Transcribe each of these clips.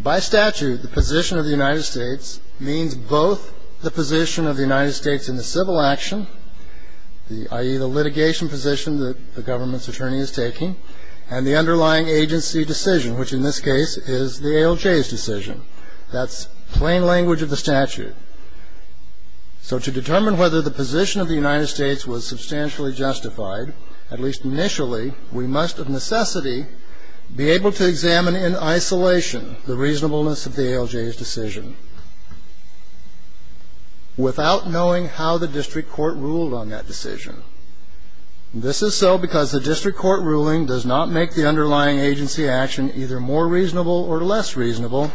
By statute, the position of the United States means both the position of the United States in the civil action, i.e. the litigation position that the government's attorney is taking, and the underlying agency decision, which in this case is the ALJ's decision. That's plain language of the statute. So to determine whether the position of the United States was substantially justified, at least initially, we must, of necessity, be able to examine in isolation the reasonableness of the ALJ's decision without knowing how the district court ruled on that decision. This is so because the district court ruling does not make the underlying agency action either more reasonable or less reasonable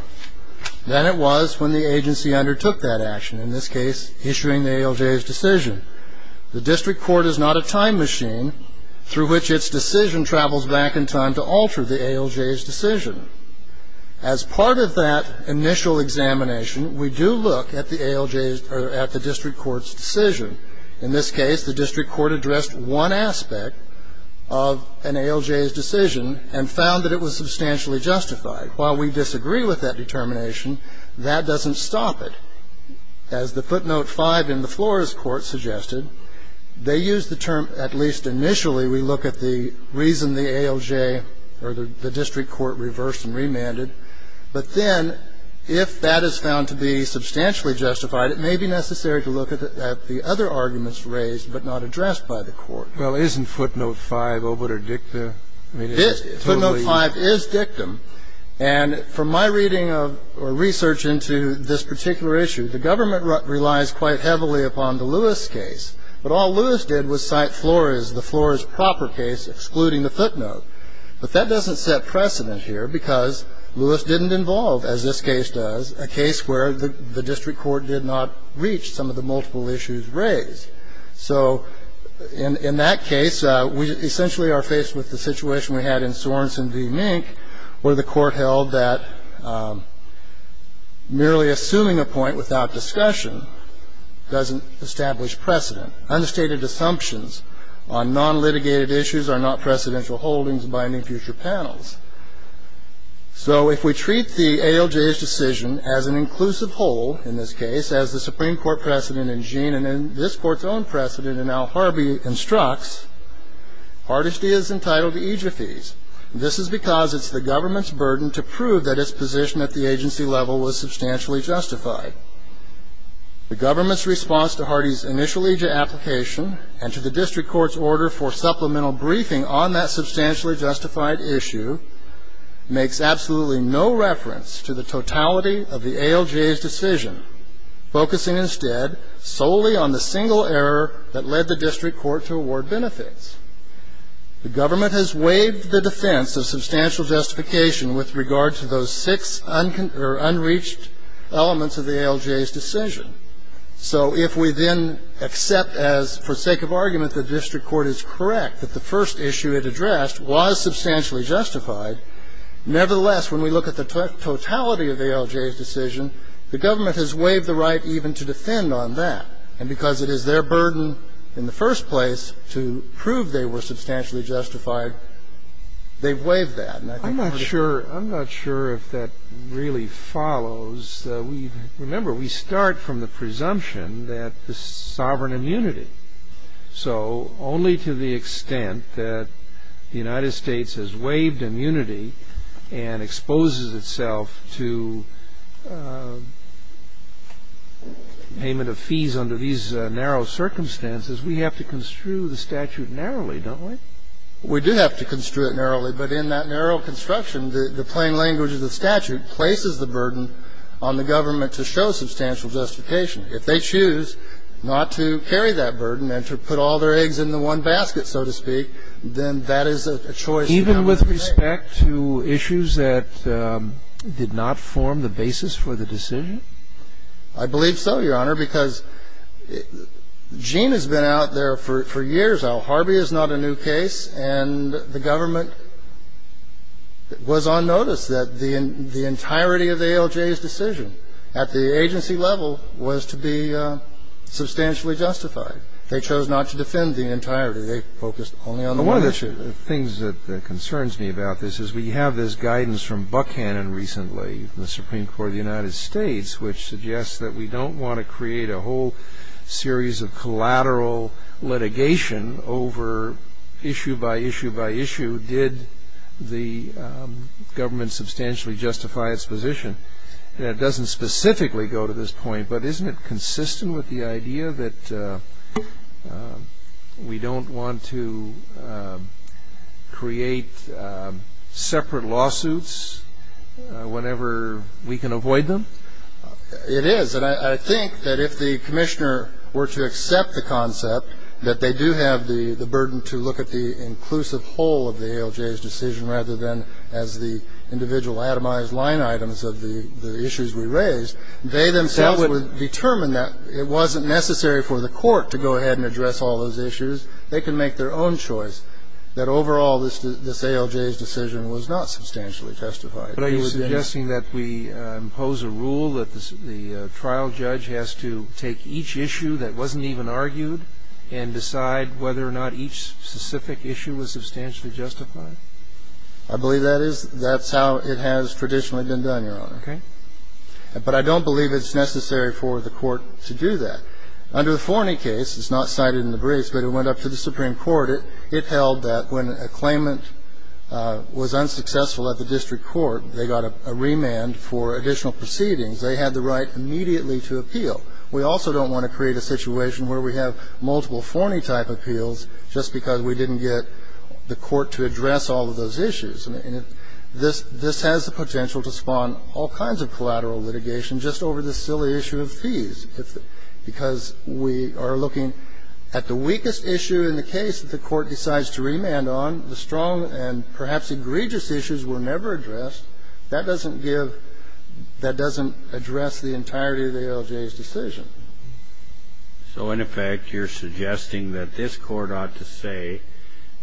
than it was when the agency undertook that action, in this case, issuing the ALJ's decision. The district court is not a time machine through which its decision travels back in time to alter the ALJ's decision. As part of that initial examination, we do look at the ALJ's or at the district court's decision. In this case, the district court addressed one aspect of an ALJ's decision and found that it was substantially justified. While we disagree with that determination, that doesn't stop it. In this case, as the footnote 5 in the Flores court suggested, they use the term, at least initially, we look at the reason the ALJ or the district court reversed and remanded. But then if that is found to be substantially justified, it may be necessary to look at the other arguments raised but not addressed by the court. Well, isn't footnote 5 obiter dictum? Footnote 5 is dictum. And from my reading of or research into this particular issue, the government relies quite heavily upon the Lewis case. But all Lewis did was cite Flores, the Flores proper case, excluding the footnote. But that doesn't set precedent here because Lewis didn't involve, as this case does, a case where the district court did not reach some of the multiple issues raised. So in that case, we essentially are faced with the situation we had in Sorenson v. Mink, where the court held that merely assuming a point without discussion doesn't establish precedent. Unstated assumptions on non-litigated issues are not precedential holdings binding future panels. So if we treat the ALJ's decision as an inclusive whole, in this case, as the Supreme Court precedent in Jean and in this court's own precedent in Al Harbi instructs, Hardesty is entitled to EJIA fees. This is because it's the government's burden to prove that its position at the agency level was substantially justified. The government's response to Hardee's initial EJIA application and to the district court's order for supplemental briefing on that substantially justified issue makes absolutely no reference to the totality of the ALJ's decision, focusing instead solely on the single error that led the district court to award benefits. The government has waived the defense of substantial justification with regard to those six unreached elements of the ALJ's decision. So if we then accept as, for sake of argument, the district court is correct that the first issue it addressed was substantially justified, nevertheless, when we look at the totality of the ALJ's decision, the government has waived the right even to defend on that. And because it is their burden in the first place to prove they were substantially justified, they've waived that. And I think Hardee ---- I'm not sure if that really follows. Remember, we start from the presumption that the sovereign immunity. So only to the extent that the United States has waived immunity and exposes itself to payment of fees under these narrow circumstances, we have to construe the statute narrowly, don't we? We do have to construe it narrowly, but in that narrow construction, the plain language of the statute places the burden on the government to show substantial justification. If they choose not to carry that burden and to put all their eggs in the one basket, so to speak, then that is a choice. Even with respect to issues that did not form the basis for the decision? I believe so, Your Honor, because Gene has been out there for years now. Hardee is not a new case, and the government was on notice that the entirety of the ALJ's decision at the agency level was to be substantially justified. They chose not to defend the entirety. They focused only on the one issue. One of the things that concerns me about this is we have this guidance from Buchanan recently from the Supreme Court of the United States which suggests that we don't want to create a whole series of collateral litigation over issue by issue by issue. Did the government substantially justify its position? It doesn't specifically go to this point, but isn't it consistent with the idea that we don't want to create separate lawsuits whenever we can avoid them? It is, and I think that if the Commissioner were to accept the concept that they do have the burden to look at the inclusive whole of the ALJ's decision rather than as the individual atomized line items of the issues we raised, they themselves would determine that it wasn't necessary for the court to go ahead and address all those issues. They can make their own choice. That overall, this ALJ's decision was not substantially testified. But are you suggesting that we impose a rule that the trial judge has to take each issue that wasn't even argued and decide whether or not each specific issue was substantially justified? I believe that is. That's how it has traditionally been done, Your Honor. Okay. But I don't believe it's necessary for the court to do that. Under the Forney case, it's not cited in the briefs, but it went up to the Supreme Court. It held that when a claimant was unsuccessful at the district court, they got a remand for additional proceedings. They had the right immediately to appeal. We also don't want to create a situation where we have multiple Forney-type appeals just because we didn't get the court to address all of those issues. And this has the potential to spawn all kinds of collateral litigation just over this silly issue of fees. And I think that's a good point, Justice Kennedy, because we are looking at the weakest issue in the case that the court decides to remand on, the strong and perhaps egregious issues were never addressed. That doesn't give the entirety of the ALJ's decision. So in effect, you're suggesting that this Court ought to say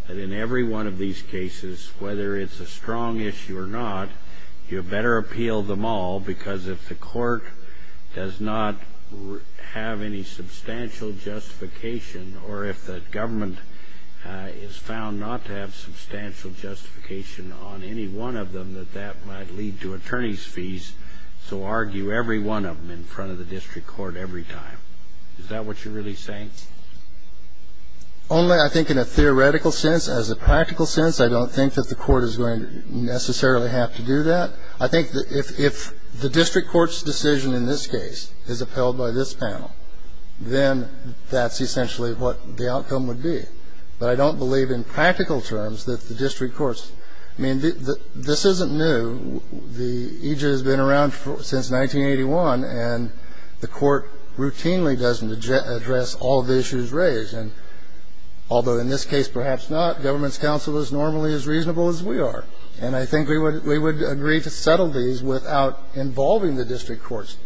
that in every one of these cases, if you have any substantial justification or if the government is found not to have substantial justification on any one of them, that that might lead to attorney's fees. So argue every one of them in front of the district court every time. Is that what you're really saying? Only, I think, in a theoretical sense. As a practical sense, I don't think that the court is going to necessarily have to do that. I think if the district court's decision in this case is upheld by this panel, then that's essentially what the outcome would be. But I don't believe in practical terms that the district court's. I mean, this isn't new. The EJ has been around since 1981, and the court routinely doesn't address all of the issues raised. And although in this case perhaps not, government's counsel is normally as reasonable as we are. And I think we would agree to settle these without involving the district court's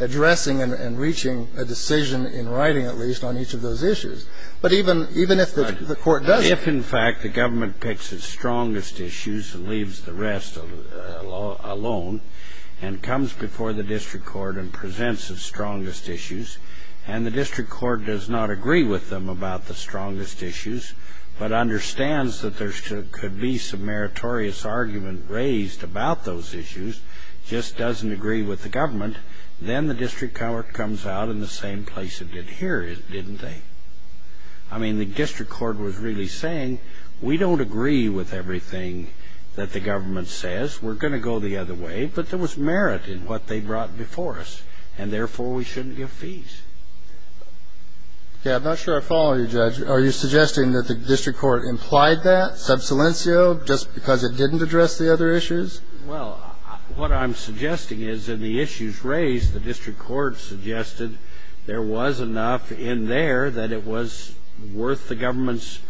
addressing and reaching a decision in writing, at least, on each of those issues. But even if the court does. If, in fact, the government picks its strongest issues and leaves the rest alone and comes before the district court and presents its strongest issues, and the district court does not agree with them about the strongest issues, but understands that there could be some meritorious argument raised about those issues, just doesn't agree with the government, then the district court comes out in the same place it did here, didn't they? I mean, the district court was really saying, we don't agree with everything that the government says. We're going to go the other way. But there was merit in what they brought before us. And therefore, we shouldn't give fees. I'm not sure I follow you, Judge. Are you suggesting that the district court implied that, sub silencio, just because it didn't address the other issues? Well, what I'm suggesting is in the issues raised, the district court suggested there was enough in there that it was worth the government's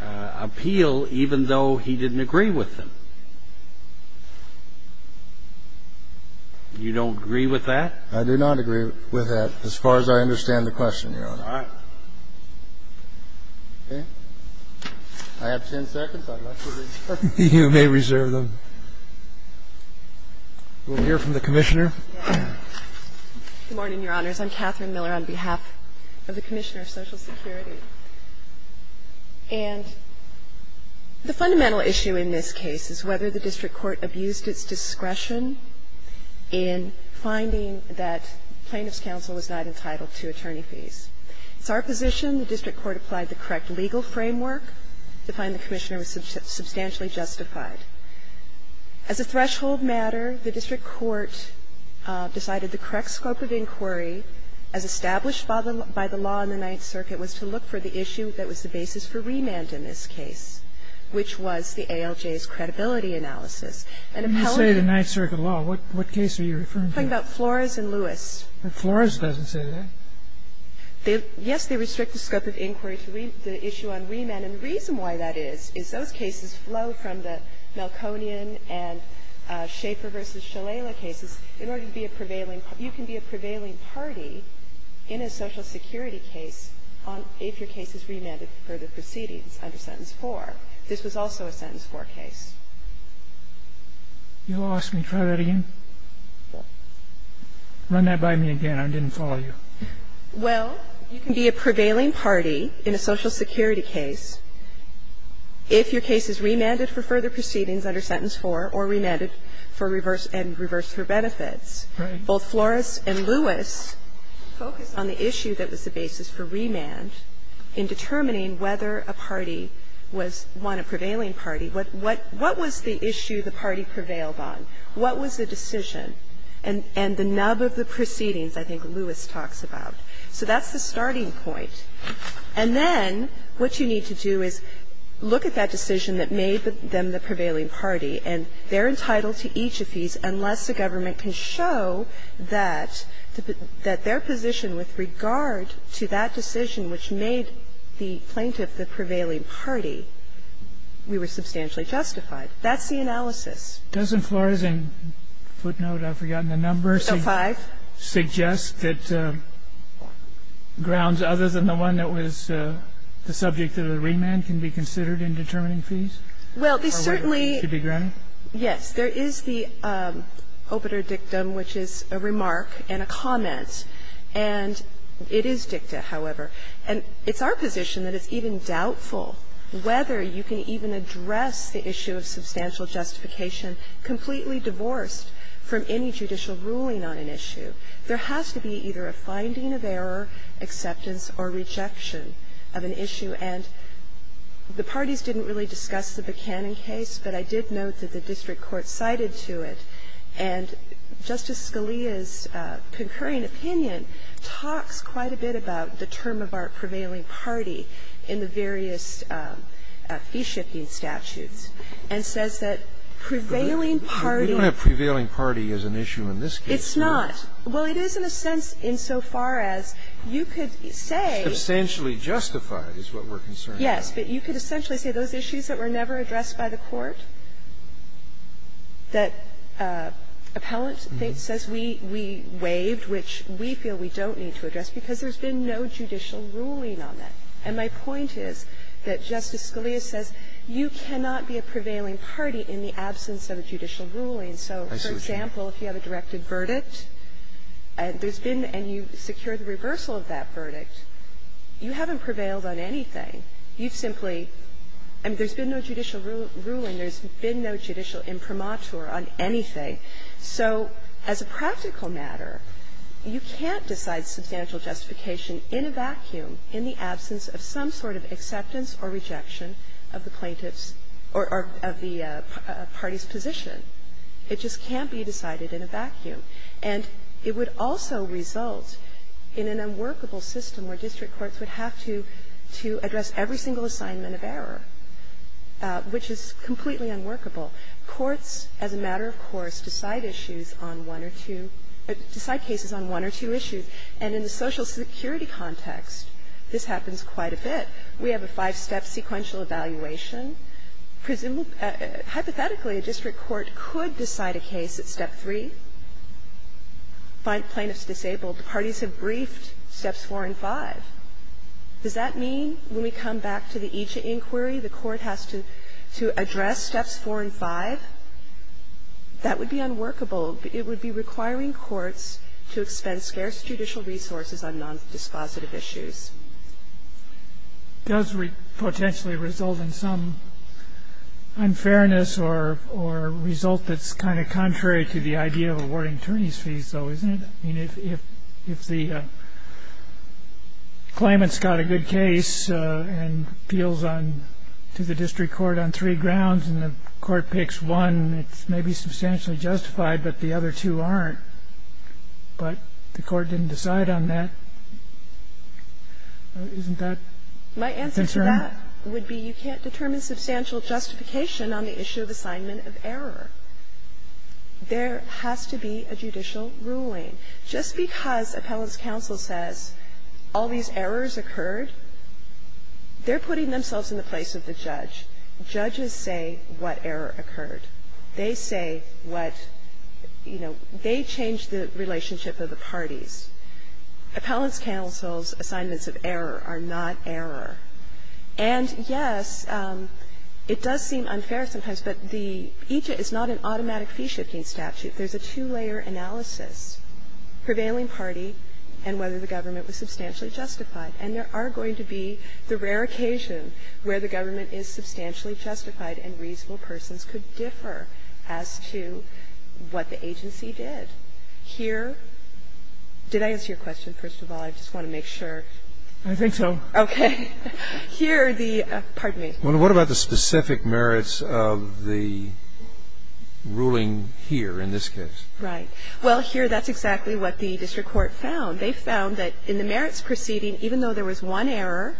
appeal, even though he didn't agree with them. You don't agree with that? I do not agree with that as far as I understand the question, Your Honor. All right. Okay. I have 10 seconds. I'd like to reserve. You may reserve them. We'll hear from the Commissioner. Good morning, Your Honors. I'm Catherine Miller on behalf of the Commissioner of Social Security. And the fundamental issue in this case is whether the district court abused its discretion in finding that plaintiff's counsel was not entitled to attorney fees. It's our position the district court applied the correct legal framework to find the Commissioner was substantially justified. As a threshold matter, the district court decided the correct scope of inquiry as established by the law in the Ninth Circuit was to look for the issue that was the basis for remand in this case, which was the ALJ's credibility analysis. And appellate. When you say the Ninth Circuit law, what case are you referring to? I'm talking about Flores and Lewis. Flores doesn't say that. Yes, they restrict the scope of inquiry to the issue on remand. And the reason why that is is those cases flow from the Malconian and Schaefer v. Shalala cases. In order to be a prevailing you can be a prevailing party in a Social Security case if your case is remanded for further proceedings under Sentence 4. This was also a Sentence 4 case. You lost me. Try that again. Run that by me again. I didn't follow you. Well, you can be a prevailing party in a Social Security case if your case is remanded for further proceedings under Sentence 4 or remanded for reverse and reverse for benefits. Right. Both Flores and Lewis focused on the issue that was the basis for remand in determining whether a party was one, a prevailing party. What was the issue the party prevailed on? What was the decision? And the nub of the proceedings I think Lewis talks about. So that's the starting point. And then what you need to do is look at that decision that made them the prevailing party, and they're entitled to each of these unless the government can show that their position with regard to that decision which made the plaintiff the prevailing party, we were substantially justified. That's the analysis. Doesn't Flores' footnote, I've forgotten the number, suggest that grounds other than the one that was the subject of the remand can be considered in determining fees? Well, they certainly Yes. There is the obiter dictum, which is a remark and a comment. And it is dicta, however. And it's our position that it's even doubtful whether you can even address the issue of substantial justification completely divorced from any judicial ruling on an issue. There has to be either a finding of error, acceptance, or rejection of an issue. And the parties didn't really discuss the Buchanan case, but I did note that the district court cited to it. And Justice Scalia's concurring opinion talks quite a bit about the term of our prevailing party in the various fee-shifting statutes, and says that prevailing party. We don't have prevailing party as an issue in this case, do we? It's not. Well, it is in a sense insofar as you could say It's substantially justified is what we're concerned about. Yes, but you could essentially say those issues that were never addressed by the court, that appellant says we waived, which we feel we don't need to address, because there's been no judicial ruling on that. And my point is that Justice Scalia says you cannot be a prevailing party in the absence of a judicial ruling. So, for example, if you have a directed verdict, and there's been and you secure the reversal of that verdict, you haven't prevailed on anything. You've simply – I mean, there's been no judicial ruling, there's been no judicial imprimatur on anything. So as a practical matter, you can't decide substantial justification in a vacuum in the absence of some sort of acceptance or rejection of the plaintiff's or of the party's position. It just can't be decided in a vacuum. And it would also result in an unworkable system where district courts would have to address every single assignment of error, which is completely unworkable. Courts, as a matter of course, decide issues on one or two – decide cases on one or two issues. And in the Social Security context, this happens quite a bit. We have a five-step sequential evaluation. Hypothetically, a district court could decide a case at step three. Find plaintiffs disabled. Parties have briefed steps four and five. Does that mean when we come back to the EJIA inquiry, the court has to address steps four and five? That would be unworkable. It would be requiring courts to expend scarce judicial resources on non-dispositive issues. It does potentially result in some unfairness or result that's kind of contrary to the idea of awarding attorneys' fees, though, isn't it? I mean, if the claimant's got a good case and appeals to the district court on three grounds and the court picks one, it's maybe substantially justified, but the other two aren't. But the court didn't decide on that. Isn't that a concern? My answer to that would be you can't determine substantial justification on the issue of assignment of error. There has to be a judicial ruling. Just because appellants' counsel says all these errors occurred, they're putting themselves in the place of the judge. Judges say what error occurred. They say what, you know, they change the relationship of the parties. Appellants' counsel's assignments of error are not error. And, yes, it does seem unfair sometimes, but the EJIA is not an automatic fee-shifting statute. There's a two-layer analysis, prevailing party and whether the government was substantially justified. And there are going to be the rare occasion where the government is substantially justified and reasonable persons could differ as to what the agency did. Here did I answer your question, first of all? I just want to make sure. I think so. Okay. Here the – pardon me. What about the specific merits of the ruling here in this case? Right. Well, here that's exactly what the district court found. They found that in the merits proceeding, even though there was one error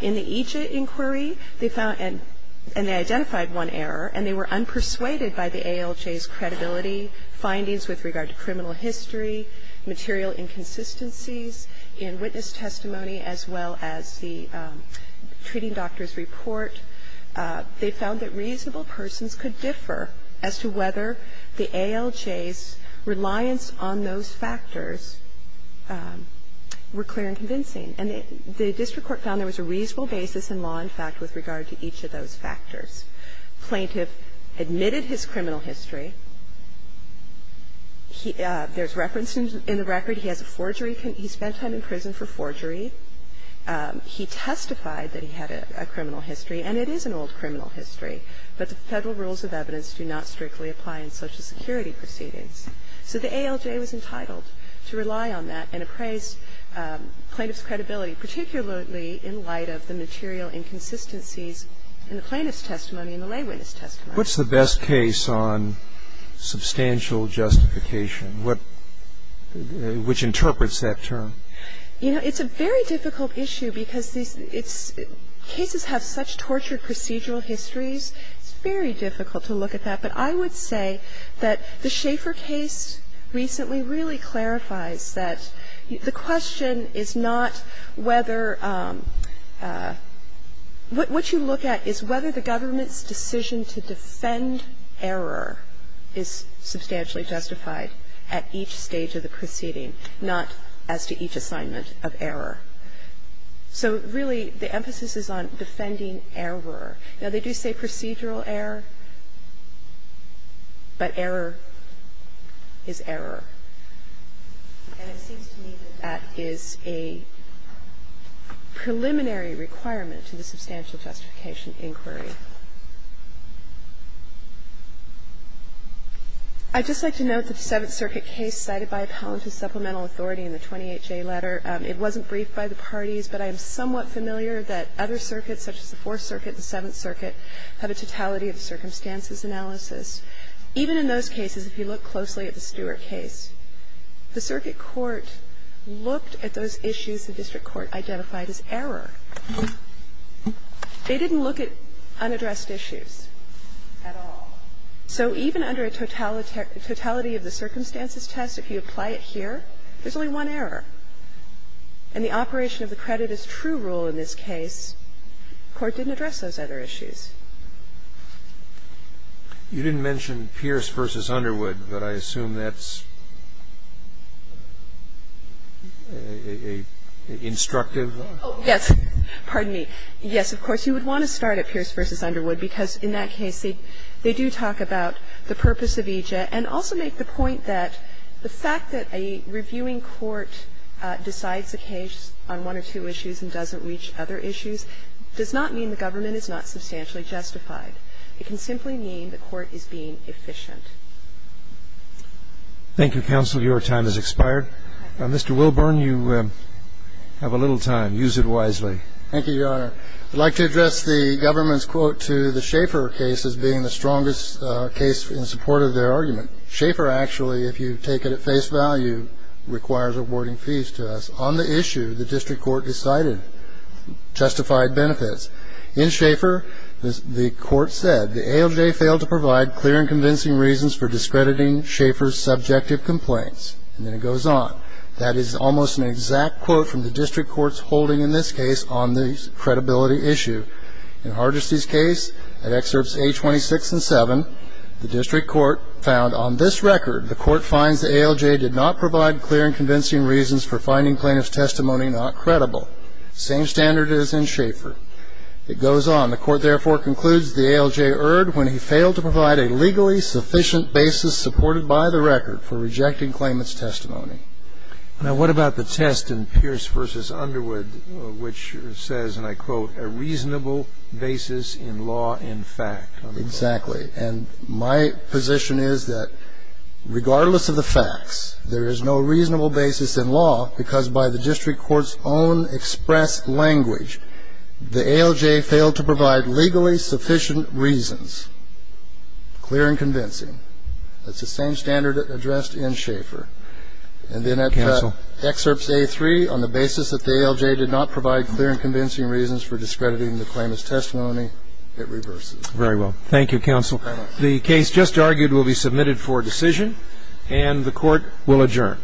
in the EJIA inquiry, they found – and they identified one error, and they were unpersuaded by the ALJ's credibility, findings with regard to criminal history, material inconsistencies in witness testimony as well as the treating doctor's report. They found that reasonable persons could differ as to whether the ALJ's reliance on those factors were clear and convincing. And the district court found there was a reasonable basis in law and fact with regard to each of those factors. Plaintiff admitted his criminal history. There's reference in the record he has a forgery – he spent time in prison for forgery. He testified that he had a criminal history, and it is an old criminal history. But the Federal rules of evidence do not strictly apply in Social Security proceedings. So the ALJ was entitled to rely on that and appraise plaintiff's credibility, particularly in light of the material inconsistencies in the plaintiff's testimony and the lay witness testimony. What's the best case on substantial justification? What – which interprets that term? You know, it's a very difficult issue because these – it's – cases have such tortured procedural histories, it's very difficult to look at that. But I would say that the Schaeffer case recently really clarifies that the question is not whether – what you look at is whether the government's decision to defend error is substantially justified at each stage of the proceeding, not as to each assignment of error. So really, the emphasis is on defending error. Now, they do say procedural error, but error is error. And it seems to me that that is a preliminary requirement to the substantial justification inquiry. I'd just like to note that the Seventh Circuit case cited by Appellant to Supplemental Authority in the 28J letter, it wasn't briefed by the parties, but I am somewhat familiar that other circuits, such as the Fourth Circuit and the Seventh Circuit, have a totality of circumstances analysis. Even in those cases, if you look closely at the Stewart case, the circuit court looked at those issues the district court identified as error. They didn't look at unaddressed issues at all. So even under a totality of the circumstances test, if you apply it here, there's only one error. And the operation of the credit as true rule in this case, the court didn't address those other issues. You didn't mention Pierce v. Underwood, but I assume that's a instructive one? Oh, yes. Pardon me. Yes, of course, you would want to start at Pierce v. Underwood, because in that case they do talk about the purpose of EJ and also make the point that the fact that a reviewing court decides a case on one or two issues and doesn't reach other issues does not mean the government is not substantially justified. It can simply mean the court is being efficient. Thank you, counsel. Your time has expired. Mr. Wilburn, you have a little time. Use it wisely. Thank you, Your Honor. I'd like to address the government's quote to the Schaeffer case as being the strongest case in support of their argument. Schaeffer actually, if you take it at face value, requires awarding fees to us. On the issue, the district court decided, justified benefits. In Schaeffer, the court said, the ALJ failed to provide clear and convincing reasons for discrediting Schaeffer's subjective complaints. And then it goes on. That is almost an exact quote from the district court's holding in this case on the credibility issue. In Hardesty's case, at excerpts 826 and 7, the district court found, on this record, the court finds the ALJ did not provide clear and convincing reasons for finding claimant's testimony not credible. Same standard as in Schaeffer. It goes on. The court, therefore, concludes the ALJ erred when he failed to provide a legally sufficient basis supported by the record for rejecting claimant's testimony. Now, what about the test in Pierce v. Underwood, which says, and I quote, a reasonable basis in law in fact. Exactly. And my position is that, regardless of the facts, there is no reasonable basis in law because by the district court's own express language, the ALJ failed to provide legally sufficient reasons. Clear and convincing. That's the same standard addressed in Schaeffer. And then at excerpts A3, on the basis that the ALJ did not provide clear and convincing reasons for discrediting the claimant's testimony, it reverses. Very well. Thank you, counsel. The case just argued will be submitted for decision, and the court will adjourn.